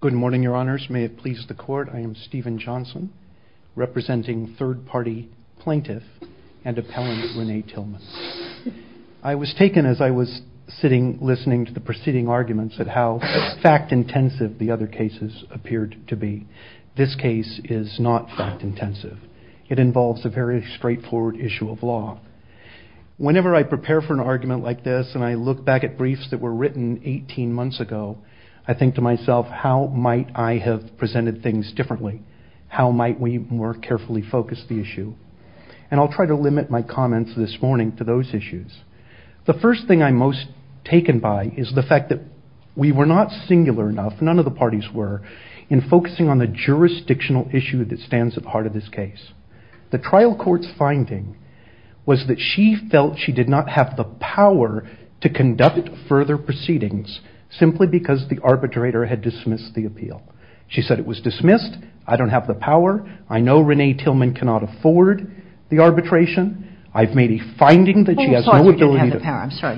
Good morning, your honors. May it please the court, I am Stephen Johnson, representing third-party plaintiff and appellant Renee Tillman. I was taken as I was sitting listening to the preceding arguments at how fact-intensive the other cases appeared to be. This case is not fact-intensive. It involves a very straightforward issue of law. Whenever I prepare for an argument like this and I look back at briefs that were written 18 months ago, I think to myself, how might I have presented things differently? How might we more carefully focus the issue? And I'll try to limit my comments this morning to those issues. The first thing I'm most taken by is the fact that we were not singular enough, none of the parties were, in focusing on the jurisdictional issue that stands at the heart of this case. The trial court's finding was that she felt she did not have the power to conduct further proceedings simply because the arbitrator had dismissed the appeal. She said it was dismissed, I don't have the power, I know Renee Tillman cannot afford the arbitration, I've made a finding that she has no ability to... I'm sorry,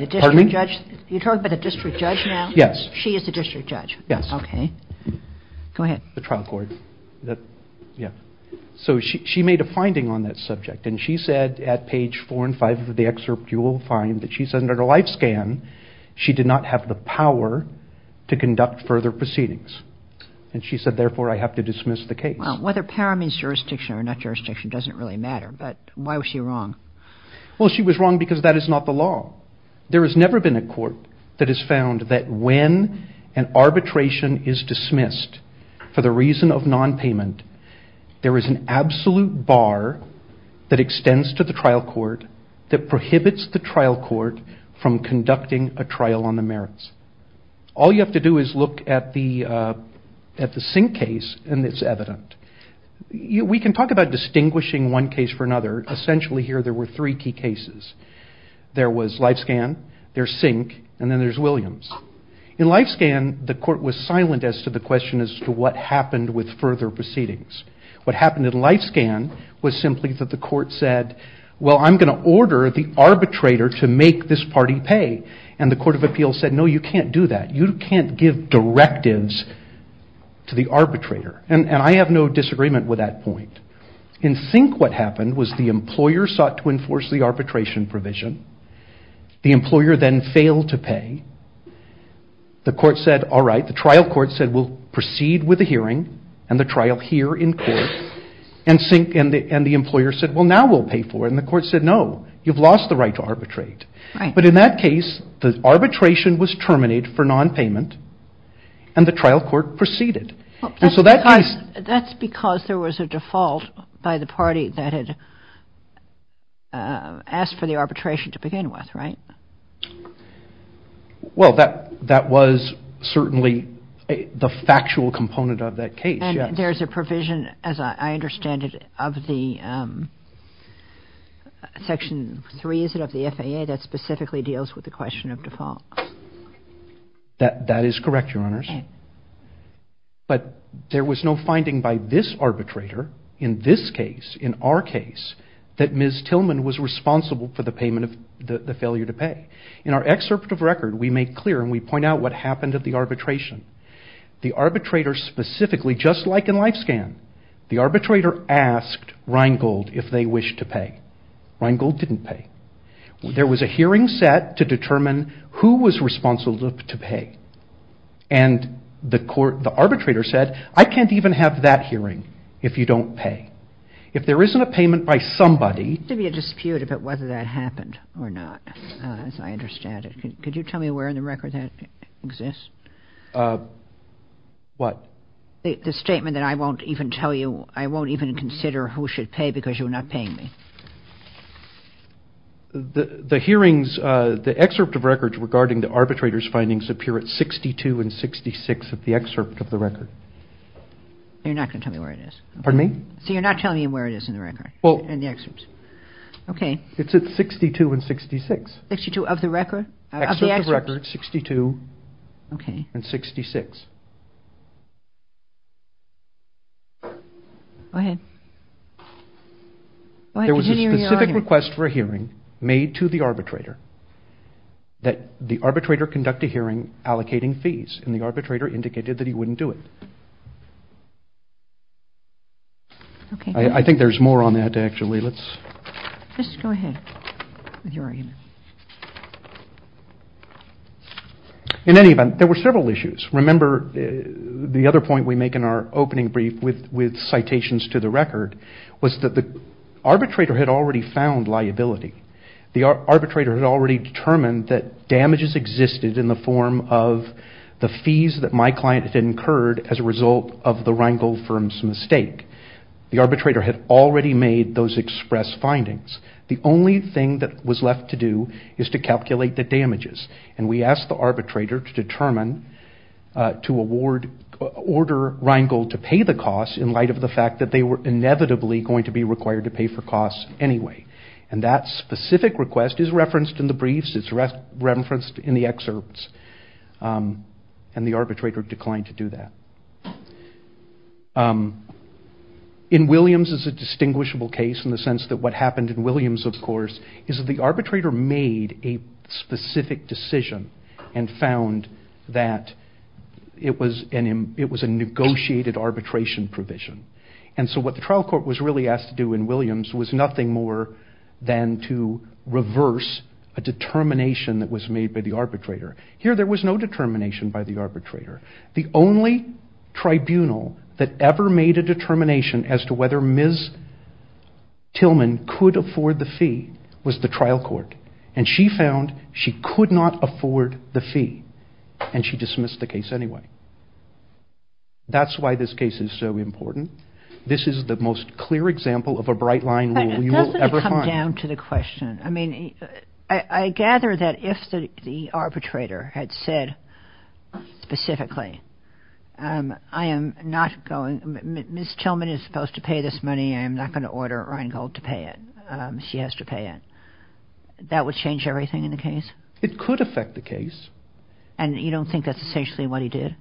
you're talking about a district judge now? Yes. She is a district judge? Yes. Okay, go ahead. The trial court, yeah. So she made a finding on that subject and she said at page four and five of the excerpt, you will find that she said under the life scan, she did not have the power to conduct further proceedings. And she said, therefore, I have to dismiss the case. Well, whether power means jurisdiction or not jurisdiction doesn't really matter, but why was she wrong? Well, she was wrong because that is not the law. There has never been a court that has found that when an arbitration is dismissed for the reason of nonpayment, there is an absolute bar that extends to the trial court that prohibits the trial court from conducting a trial on the merits. All you have to do is look at the Sink case and it's evident. We can talk about distinguishing one case from another. Essentially, here there were three key cases. There was LifeScan, there's Sink, and then there's Williams. In LifeScan, the court was silent as to the question as to what happened with further proceedings. What happened in LifeScan was simply that the court said, well, I'm going to order the arbitrator to make this party pay. And the Court of Appeals said, no, you can't do that. You can't give directives to the arbitrator. And I have no disagreement with that point. In Sink, what happened was the employer sought to enforce the arbitration provision. The employer then failed to pay. The court said, all right. The trial court said we'll proceed with the hearing and the trial here in court. And the employer said, well, now we'll pay for it. And the court said, no, you've lost the right to arbitrate. But in that case, the arbitration was terminated for nonpayment and the trial court proceeded. That's because there was a default by the party that had asked for the arbitration to begin with, right? Well, that was certainly the factual component of that case, yes. And there's a provision, as I understand it, of the Section 3, is it, of the FAA that specifically deals with the question of default? That is correct, Your Honors. But there was no finding by this arbitrator in this case, in our case, that Ms. Tillman was responsible for the payment of the failure to pay. In our excerpt of record, we make clear and we point out what happened at the arbitration. The arbitrator specifically, just like in LifeScan, the arbitrator asked Rheingold if they wished to pay. Rheingold didn't pay. There was a hearing set to determine who was responsible to pay. And the arbitrator said, I can't even have that hearing if you don't pay. If there isn't a payment by somebody— There should be a dispute about whether that happened or not, as I understand it. Could you tell me where in the record that exists? What? The statement that I won't even tell you, I won't even consider who should pay because you're not paying me. The hearings, the excerpt of records regarding the arbitrator's findings appear at 62 and 66 of the excerpt of the record. You're not going to tell me where it is? Pardon me? So you're not telling me where it is in the record, in the excerpts? Okay. It's at 62 and 66. 62 of the record? Excerpt of record, 62 and 66. Go ahead. There was a specific request for a hearing made to the arbitrator that the arbitrator conduct a hearing allocating fees, and the arbitrator indicated that he wouldn't do it. I think there's more on that, actually. Just go ahead with your argument. In any event, there were several issues. Remember, the other point we make in our opening brief with citations to the record was that the arbitrator had already found liability. The arbitrator had already determined that damages existed in the form of the fees that my client had incurred as a result of the Rheingold firm's mistake. The arbitrator had already made those express findings. The only thing that was left to do is to calculate the damages, and we asked the arbitrator to order Rheingold to pay the costs in light of the fact that they were inevitably going to be required to pay for costs anyway. And that specific request is referenced in the briefs. It's referenced in the excerpts, and the arbitrator declined to do that. In Williams, it's a distinguishable case in the sense that what happened in Williams, of course, is that the arbitrator made a specific decision and found that it was a negotiated arbitration provision. And so what the trial court was really asked to do in Williams was nothing more than to reverse a determination that was made by the arbitrator. Here, there was no determination by the arbitrator. The only tribunal that ever made a determination as to whether Ms. Tillman could afford the fee was the trial court, and she found she could not afford the fee, and she dismissed the case anyway. That's why this case is so important. This is the most clear example of a bright-line rule you will ever find. I mean, I gather that if the arbitrator had said specifically, I am not going, Ms. Tillman is supposed to pay this money. I am not going to order Reingold to pay it. She has to pay it. That would change everything in the case? It could affect the case. And you don't think that's essentially what he did?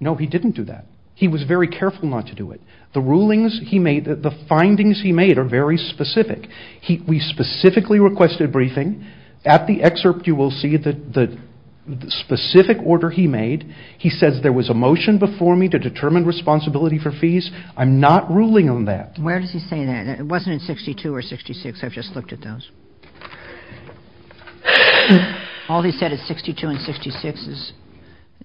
No, he didn't do that. He was very careful not to do it. The rulings he made, the findings he made are very specific. We specifically requested briefing. At the excerpt, you will see the specific order he made. He says there was a motion before me to determine responsibility for fees. I'm not ruling on that. Where does he say that? It wasn't in 62 or 66. I've just looked at those. All he said in 62 and 66 is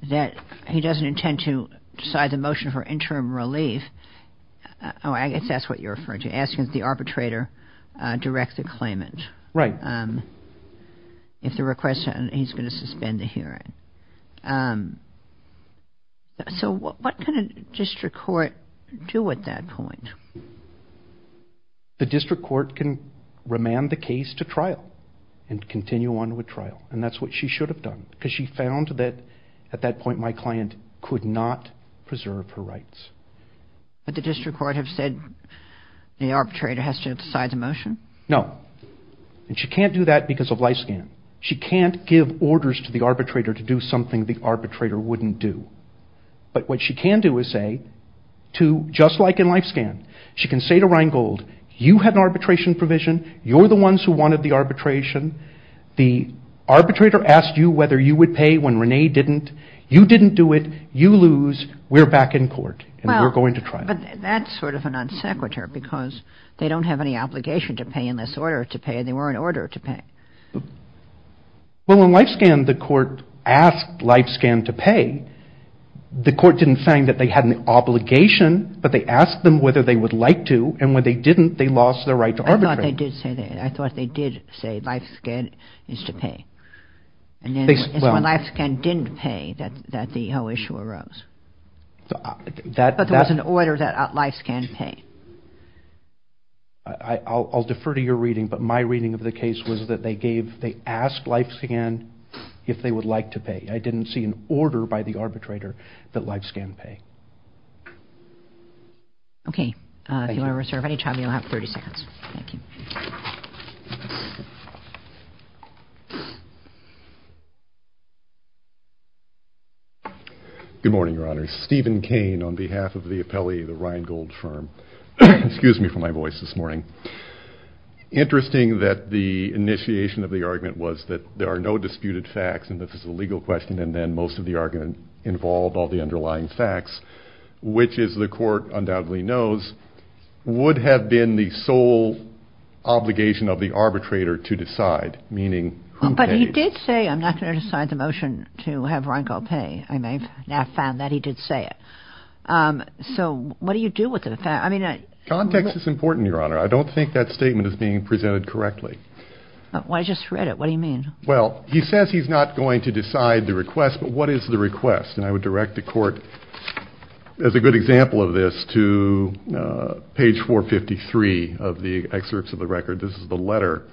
that he doesn't intend to decide the motion for interim relief. Oh, I guess that's what you're referring to, asking if the arbitrator directs a claimant. Right. If the request, he's going to suspend the hearing. So what can a district court do at that point? The district court can remand the case to trial and continue on with trial. And that's what she should have done. Because she found that at that point my client could not preserve her rights. But the district court has said the arbitrator has to decide the motion? No. And she can't do that because of life scan. She can't give orders to the arbitrator to do something the arbitrator wouldn't do. But what she can do is say, just like in life scan, she can say to Rheingold, you had an arbitration provision, you're the ones who wanted the arbitration, the arbitrator asked you whether you would pay when Renee didn't. You didn't do it. You lose. We're back in court. And we're going to trial. But that's sort of an unsecretary because they don't have any obligation to pay unless ordered to pay. And they were in order to pay. Well, in life scan, the court asked life scan to pay. The court didn't say that they had an obligation, but they asked them whether they would like to. And when they didn't, they lost their right to arbitrate. I thought they did say life scan is to pay. And then it's when life scan didn't pay that the whole issue arose. But there was an order that life scan pay. I'll defer to your reading, but my reading of the case was that they gave, they asked life scan if they would like to pay. I didn't see an order by the arbitrator that life scan pay. Okay. Thank you. If you want to reserve any time, you'll have 30 seconds. Thank you. Good morning, Your Honors. Stephen Kane on behalf of the appellee at the Ryan Gold firm. Excuse me for my voice this morning. Interesting that the initiation of the argument was that there are no disputed facts and this is a legal question and then most of the argument involved all the underlying facts, which is the court undoubtedly knows, would have been the sole obligation of the arbitrator to decide, meaning who pays. But he did say I'm not going to decide the motion to have Ryan Gold pay. I may have now found that he did say it. So what do you do with it? Context is important, Your Honor. I don't think that statement is being presented correctly. I just read it. What do you mean? Well, he says he's not going to decide the request, but what is the request? And I would direct the court, as a good example of this, to page 453 of the excerpts of the record. This is the letter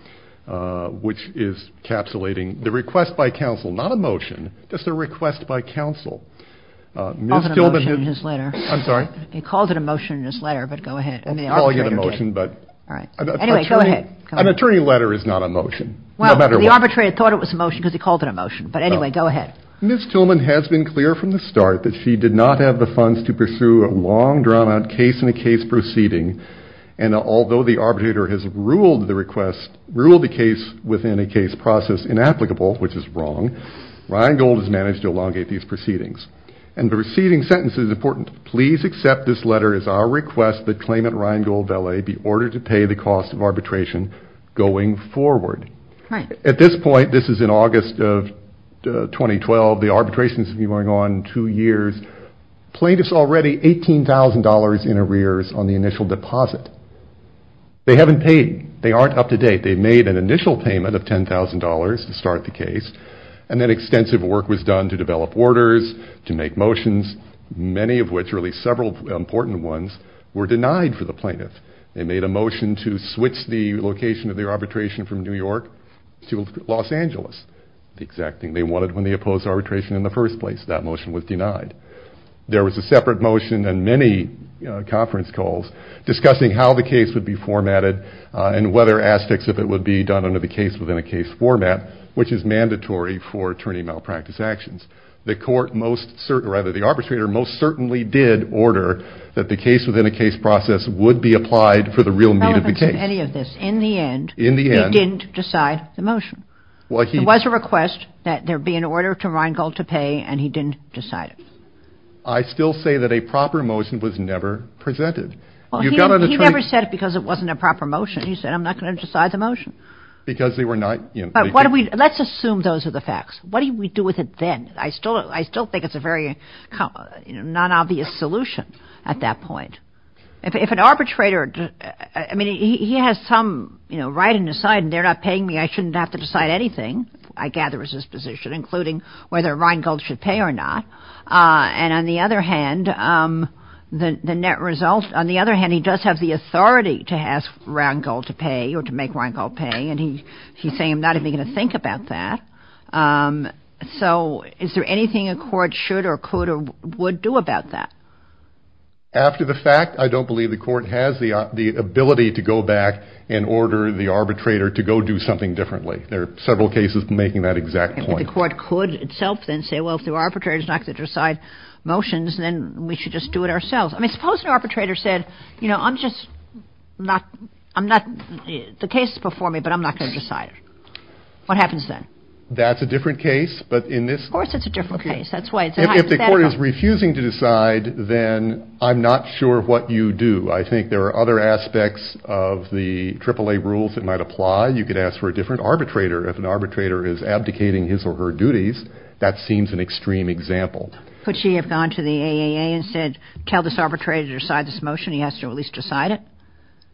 which is capsulating the request by counsel, not a motion, just a request by counsel. He called it a motion in his letter. I'm sorry? He called it a motion in his letter, but go ahead. I'll call it a motion, but an attorney letter is not a motion. Well, the arbitrator thought it was a motion because he called it a motion. But anyway, go ahead. Ms. Tillman has been clear from the start that she did not have the funds to pursue a long, drawn-out case-in-a-case proceeding. And although the arbitrator has ruled the request, ruled the case within a case process inapplicable, which is wrong, Ryan Gold has managed to elongate these proceedings. And the receiving sentence is important. Please accept this letter as our request that claimant Ryan Gold Velay be ordered to pay the cost of arbitration going forward. At this point, this is in August of 2012. The arbitration has been going on two years. Plaintiffs already $18,000 in arrears on the initial deposit. They haven't paid. They aren't up to date. They made an initial payment of $10,000 to start the case, and then extensive work was done to develop orders, to make motions, many of which, really several important ones, were denied for the plaintiff. They made a motion to switch the location of their arbitration from New York to Los Angeles, the exact thing they wanted when they opposed arbitration in the first place. That motion was denied. There was a separate motion and many conference calls discussing how the case would be formatted and whether aspects of it would be done under the case-within-a-case format, which is mandatory for attorney malpractice actions. The arbitrator most certainly did order that the case-within-a-case process would be applied for the real meat of the case. In the end, he didn't decide the motion. There was a request that there be an order to Reingold to pay, and he didn't decide it. I still say that a proper motion was never presented. He never said it because it wasn't a proper motion. He said, I'm not going to decide the motion. Because they were not in place. Let's assume those are the facts. What do we do with it then? I still think it's a very non-obvious solution at that point. If an arbitrator-I mean, he has some right and decide, and they're not paying me. I shouldn't have to decide anything, I gather, is his position, including whether Reingold should pay or not. And on the other hand, the net result-on the other hand, he does have the authority to ask Reingold to pay or to make Reingold pay, and he's saying, I'm not even going to think about that. So is there anything a court should or could or would do about that? After the fact, I don't believe the court has the ability to go back and order the arbitrator to go do something differently. There are several cases making that exact point. But the court could itself then say, well, if the arbitrator is not going to decide motions, then we should just do it ourselves. I mean, suppose an arbitrator said, you know, I'm just not-I'm not-the case is before me, but I'm not going to decide it. What happens then? That's a different case, but in this- Of course it's a different case. That's why it's hypothetical. If the court is refusing to decide, then I'm not sure what you do. I think there are other aspects of the AAA rules that might apply. You could ask for a different arbitrator. If an arbitrator is abdicating his or her duties, that seems an extreme example. Could she have gone to the AAA and said, tell this arbitrator to decide this motion, he has to at least decide it?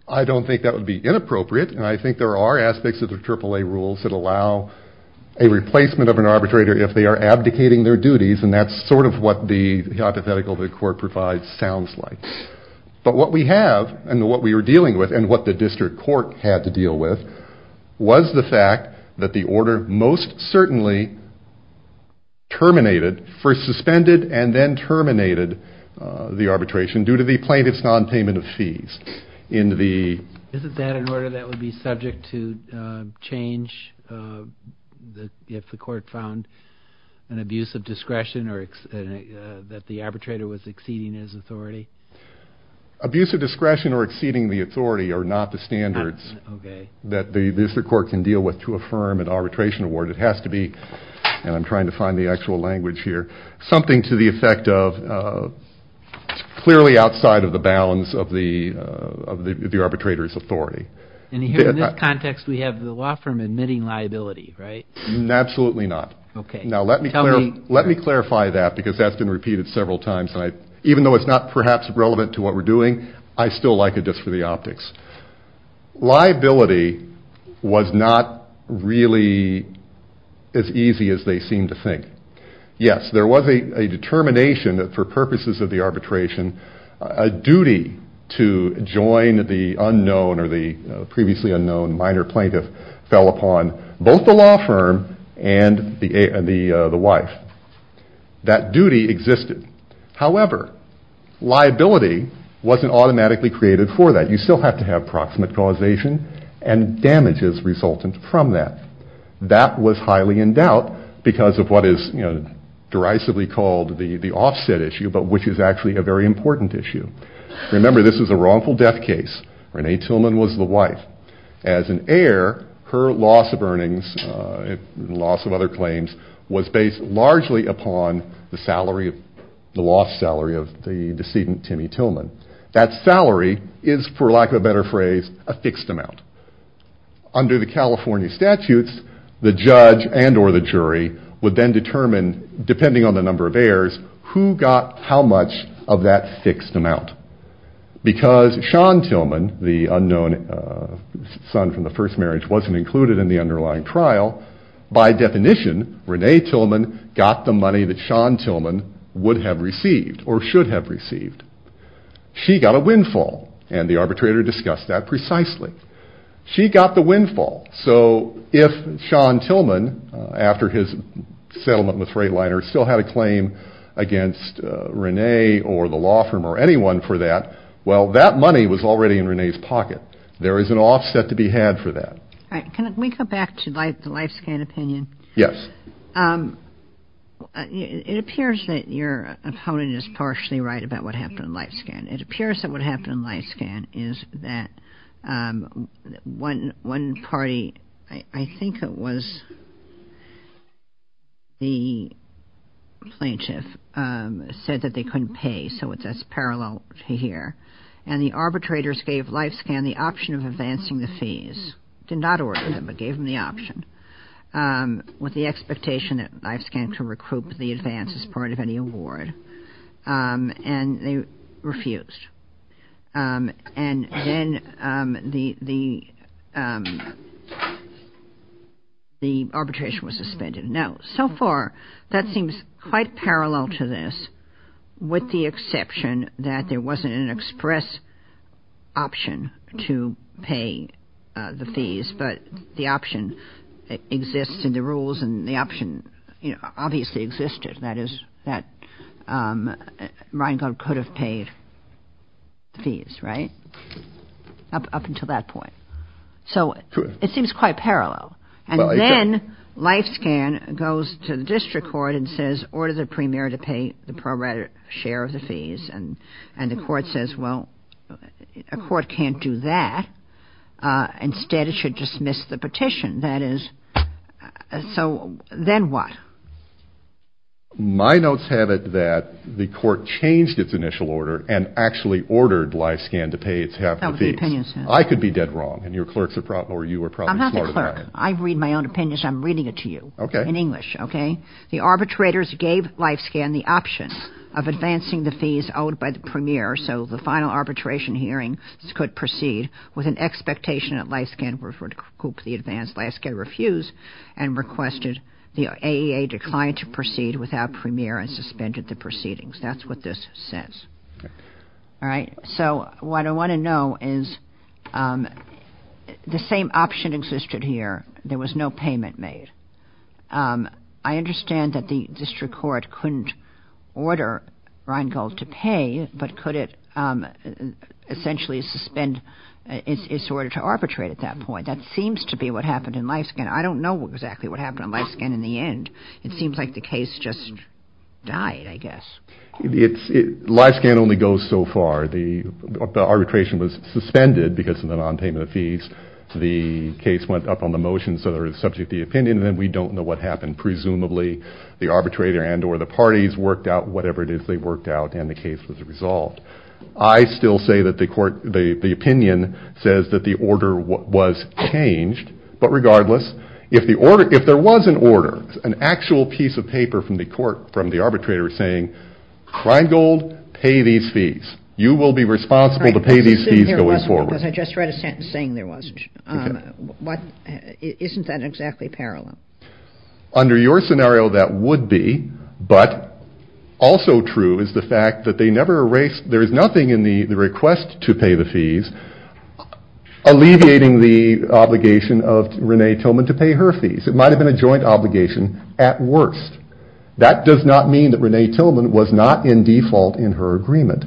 I don't think that would be inappropriate. And I think there are aspects of the AAA rules that allow a replacement of an arbitrator if they are abdicating their duties. And that's sort of what the hypothetical the court provides sounds like. But what we have and what we are dealing with and what the district court had to deal with was the fact that the order most certainly terminated, first suspended and then terminated the arbitration due to the plaintiff's nonpayment of fees in the- Isn't that an order that would be subject to change if the court found an abuse of discretion or that the arbitrator was exceeding his authority? Abuse of discretion or exceeding the authority are not the standards that the district court can deal with to affirm an arbitration award. It has to be, and I'm trying to find the actual language here, something to the effect of clearly outside of the bounds of the arbitrator's authority. And here in this context we have the law firm admitting liability, right? Absolutely not. Now let me clarify that because that's been repeated several times. Even though it's not perhaps relevant to what we're doing, I still like it just for the optics. Liability was not really as easy as they seem to think. Yes, there was a determination that for purposes of the arbitration, a duty to join the unknown or the previously unknown minor plaintiff fell upon both the law firm and the wife. That duty existed. However, liability wasn't automatically created for that. You still have to have proximate causation and damages resultant from that. That was highly in doubt because of what is derisively called the offset issue, but which is actually a very important issue. Remember, this is a wrongful death case. Renee Tillman was the wife. As an heir, her loss of earnings and loss of other claims was based largely upon the salary, the lost salary of the decedent, Timmy Tillman. That salary is, for lack of a better phrase, a fixed amount. Under the California statutes, the judge and or the jury would then determine, depending on the number of heirs, who got how much of that fixed amount. Because Sean Tillman, the unknown son from the first marriage, wasn't included in the underlying trial, by definition Renee Tillman got the money that Sean Tillman would have received or should have received. She got a windfall, and the arbitrator discussed that precisely. She got the windfall, so if Sean Tillman, after his settlement with Freightliner, still had a claim against Renee or the law firm or anyone for that, well, that money was already in Renee's pocket. There is an offset to be had for that. Can we go back to the LifeScan opinion? Yes. It appears that your opponent is partially right about what happened in LifeScan. It appears that what happened in LifeScan is that one party, I think it was the plaintiff, said that they couldn't pay, so that's parallel to here. And the arbitrators gave LifeScan the option of advancing the fees. Did not order them, but gave them the option, with the expectation that LifeScan could recruit the advance as part of any award. And they refused. And then the arbitration was suspended. Now, so far, that seems quite parallel to this, with the exception that there wasn't an express option to pay the fees, but the option exists in the rules, and the option obviously existed. That is, that Rheingold could have paid fees, right, up until that point. So it seems quite parallel. And then LifeScan goes to the district court and says, order the premier to pay the prorated share of the fees, and the court says, well, a court can't do that. Instead, it should dismiss the petition. So then what? My notes have it that the court changed its initial order and actually ordered LifeScan to pay its half the fees. I could be dead wrong, and your clerks are probably smarter than I am. I'm not the clerk. I read my own opinions. I'm reading it to you in English. The arbitrators gave LifeScan the option of advancing the fees owed by the premier so the final arbitration hearing could proceed, with an expectation that LifeScan would recoup the advance. LifeScan refused and requested the AEA decline to proceed without premier and suspended the proceedings. That's what this says. All right, so what I want to know is the same option existed here. There was no payment made. I understand that the district court couldn't order Rheingold to pay, but could it essentially suspend its order to arbitrate at that point? That seems to be what happened in LifeScan. I don't know exactly what happened in LifeScan in the end. It seems like the case just died, I guess. LifeScan only goes so far. The arbitration was suspended because of the nonpayment of fees. The case went up on the motion, so they were subject to the opinion, and then we don't know what happened. Presumably the arbitrator and or the parties worked out whatever it is they worked out and the case was resolved. I still say that the opinion says that the order was changed. But regardless, if there was an order, an actual piece of paper from the arbitrator saying, Rheingold, pay these fees. You will be responsible to pay these fees going forward. I just read a sentence saying there wasn't. Isn't that exactly parallel? Under your scenario, that would be. But also true is the fact that there is nothing in the request to pay the fees alleviating the obligation of Renee Tillman to pay her fees. It might have been a joint obligation at worst. That does not mean that Renee Tillman was not in default in her agreement.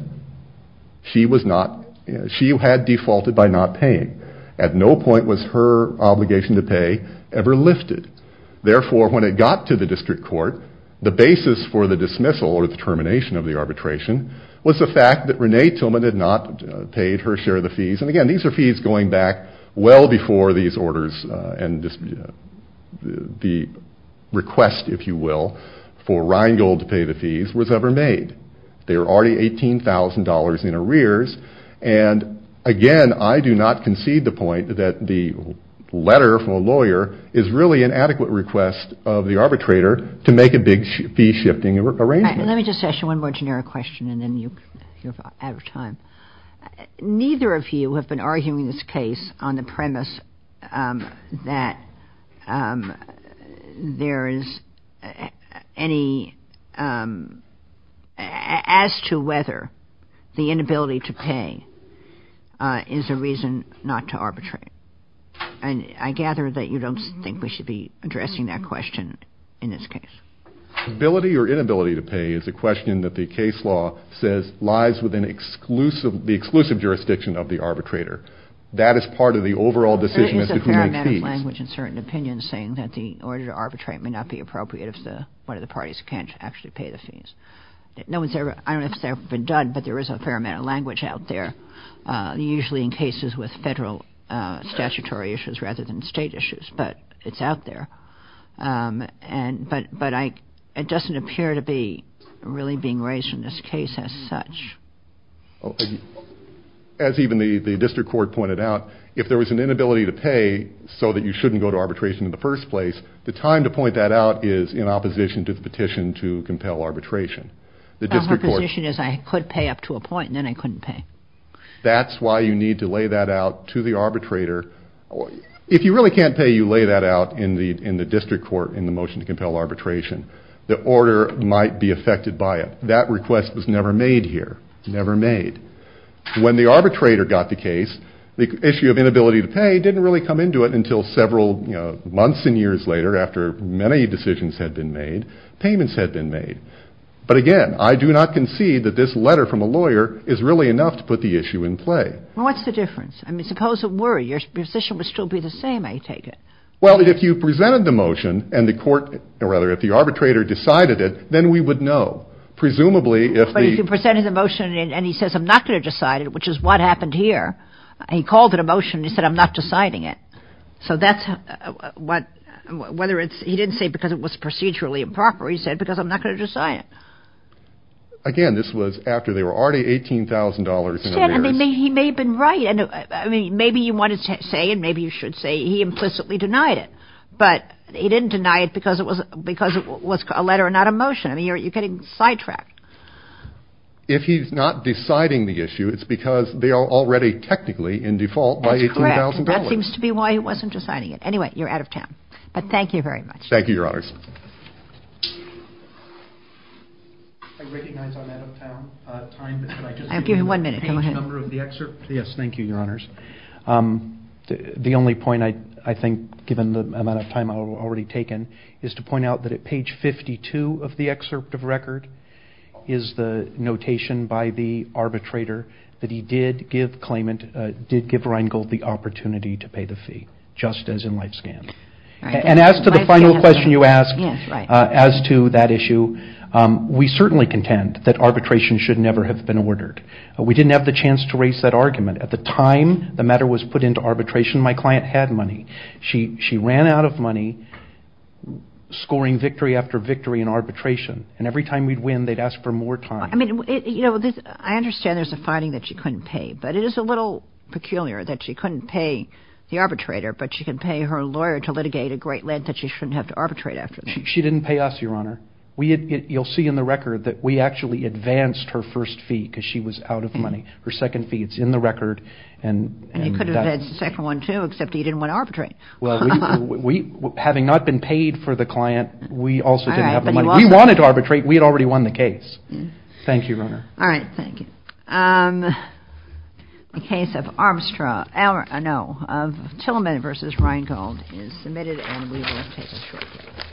She had defaulted by not paying. At no point was her obligation to pay ever lifted. Therefore, when it got to the district court, the basis for the dismissal or the termination of the arbitration was the fact that Renee Tillman had not paid her share of the fees. And again, these are fees going back well before these orders and the request, if you will, for Rheingold to pay the fees was ever made. They were already $18,000 in arrears. And again, I do not concede the point that the letter from a lawyer is really an adequate request of the arbitrator to make a big fee-shifting arrangement. Let me just ask you one more generic question and then you're out of time. Neither of you have been arguing this case on the premise that there is any as to whether the inability to pay is a reason not to arbitrate. And I gather that you don't think we should be addressing that question in this case. Ability or inability to pay is a question that the case law says lies within the exclusive jurisdiction of the arbitrator. That is part of the overall decision as to who makes fees. There is a parametric language in certain opinions saying that the order to arbitrate may not be appropriate if one of the parties can't actually pay the fees. I don't know if it's ever been done, but there is a parametric language out there, usually in cases with federal statutory issues rather than state issues, but it's out there. But it doesn't appear to be really being raised in this case as such. As even the district court pointed out, if there was an inability to pay so that you shouldn't go to arbitration in the first place, the time to point that out is in opposition to the petition to compel arbitration. The district court. The opposition is I could pay up to a point and then I couldn't pay. That's why you need to lay that out to the arbitrator. If you really can't pay, you lay that out in the district court in the motion to compel arbitration. The order might be affected by it. That request was never made here, never made. When the arbitrator got the case, the issue of inability to pay didn't really come into it until several months and years later after many decisions had been made. Payments had been made. But again, I do not concede that this letter from a lawyer is really enough to put the issue in play. Well, what's the difference? I mean, suppose it were. Your position would still be the same, I take it. Well, if you presented the motion and the court or rather if the arbitrator decided it, then we would know. Presumably, if he presented the motion and he says, I'm not going to decide it, which is what happened here. He called it a motion. He said, I'm not deciding it. So that's what whether it's he didn't say because it was procedurally improper. He said, because I'm not going to decide it again. This was after they were already eighteen thousand dollars. He may have been right. And I mean, maybe you want to say and maybe you should say he implicitly denied it. But he didn't deny it because it was because it was a letter, not a motion. I mean, you're getting sidetracked. If he's not deciding the issue, it's because they are already technically in default by eighteen thousand dollars. That seems to be why he wasn't deciding it. Anyway, you're out of town. But thank you very much. Thank you, Your Honors. I recognize I'm out of time. I'll give you one minute. Yes. Thank you, Your Honors. The only point I think, given the amount of time I've already taken, is to point out that at page 52 of the excerpt of record is the notation by the arbitrator that he did give claimant, did give Reingold the opportunity to pay the fee, just as in life scan. And as to the final question you asked, as to that issue, we certainly contend that arbitration should never have been ordered. We didn't have the chance to raise that argument. At the time the matter was put into arbitration, my client had money. She ran out of money scoring victory after victory in arbitration. And every time we'd win, they'd ask for more time. I mean, you know, I understand there's a finding that she couldn't pay. But it is a little peculiar that she couldn't pay the arbitrator, but she can pay her lawyer to litigate a great length that she shouldn't have to arbitrate after. She didn't pay us, Your Honor. You'll see in the record that we actually advanced her first fee because she was out of money. Her second fee is in the record. And you could have had the second one too, except you didn't want to arbitrate. Well, we, having not been paid for the client, we also didn't have the money. We wanted to arbitrate. We had already won the case. Thank you, Your Honor. All right. Thank you. The case of Armstrong, no, Tillman v. Reingold is submitted, and we will take a short break.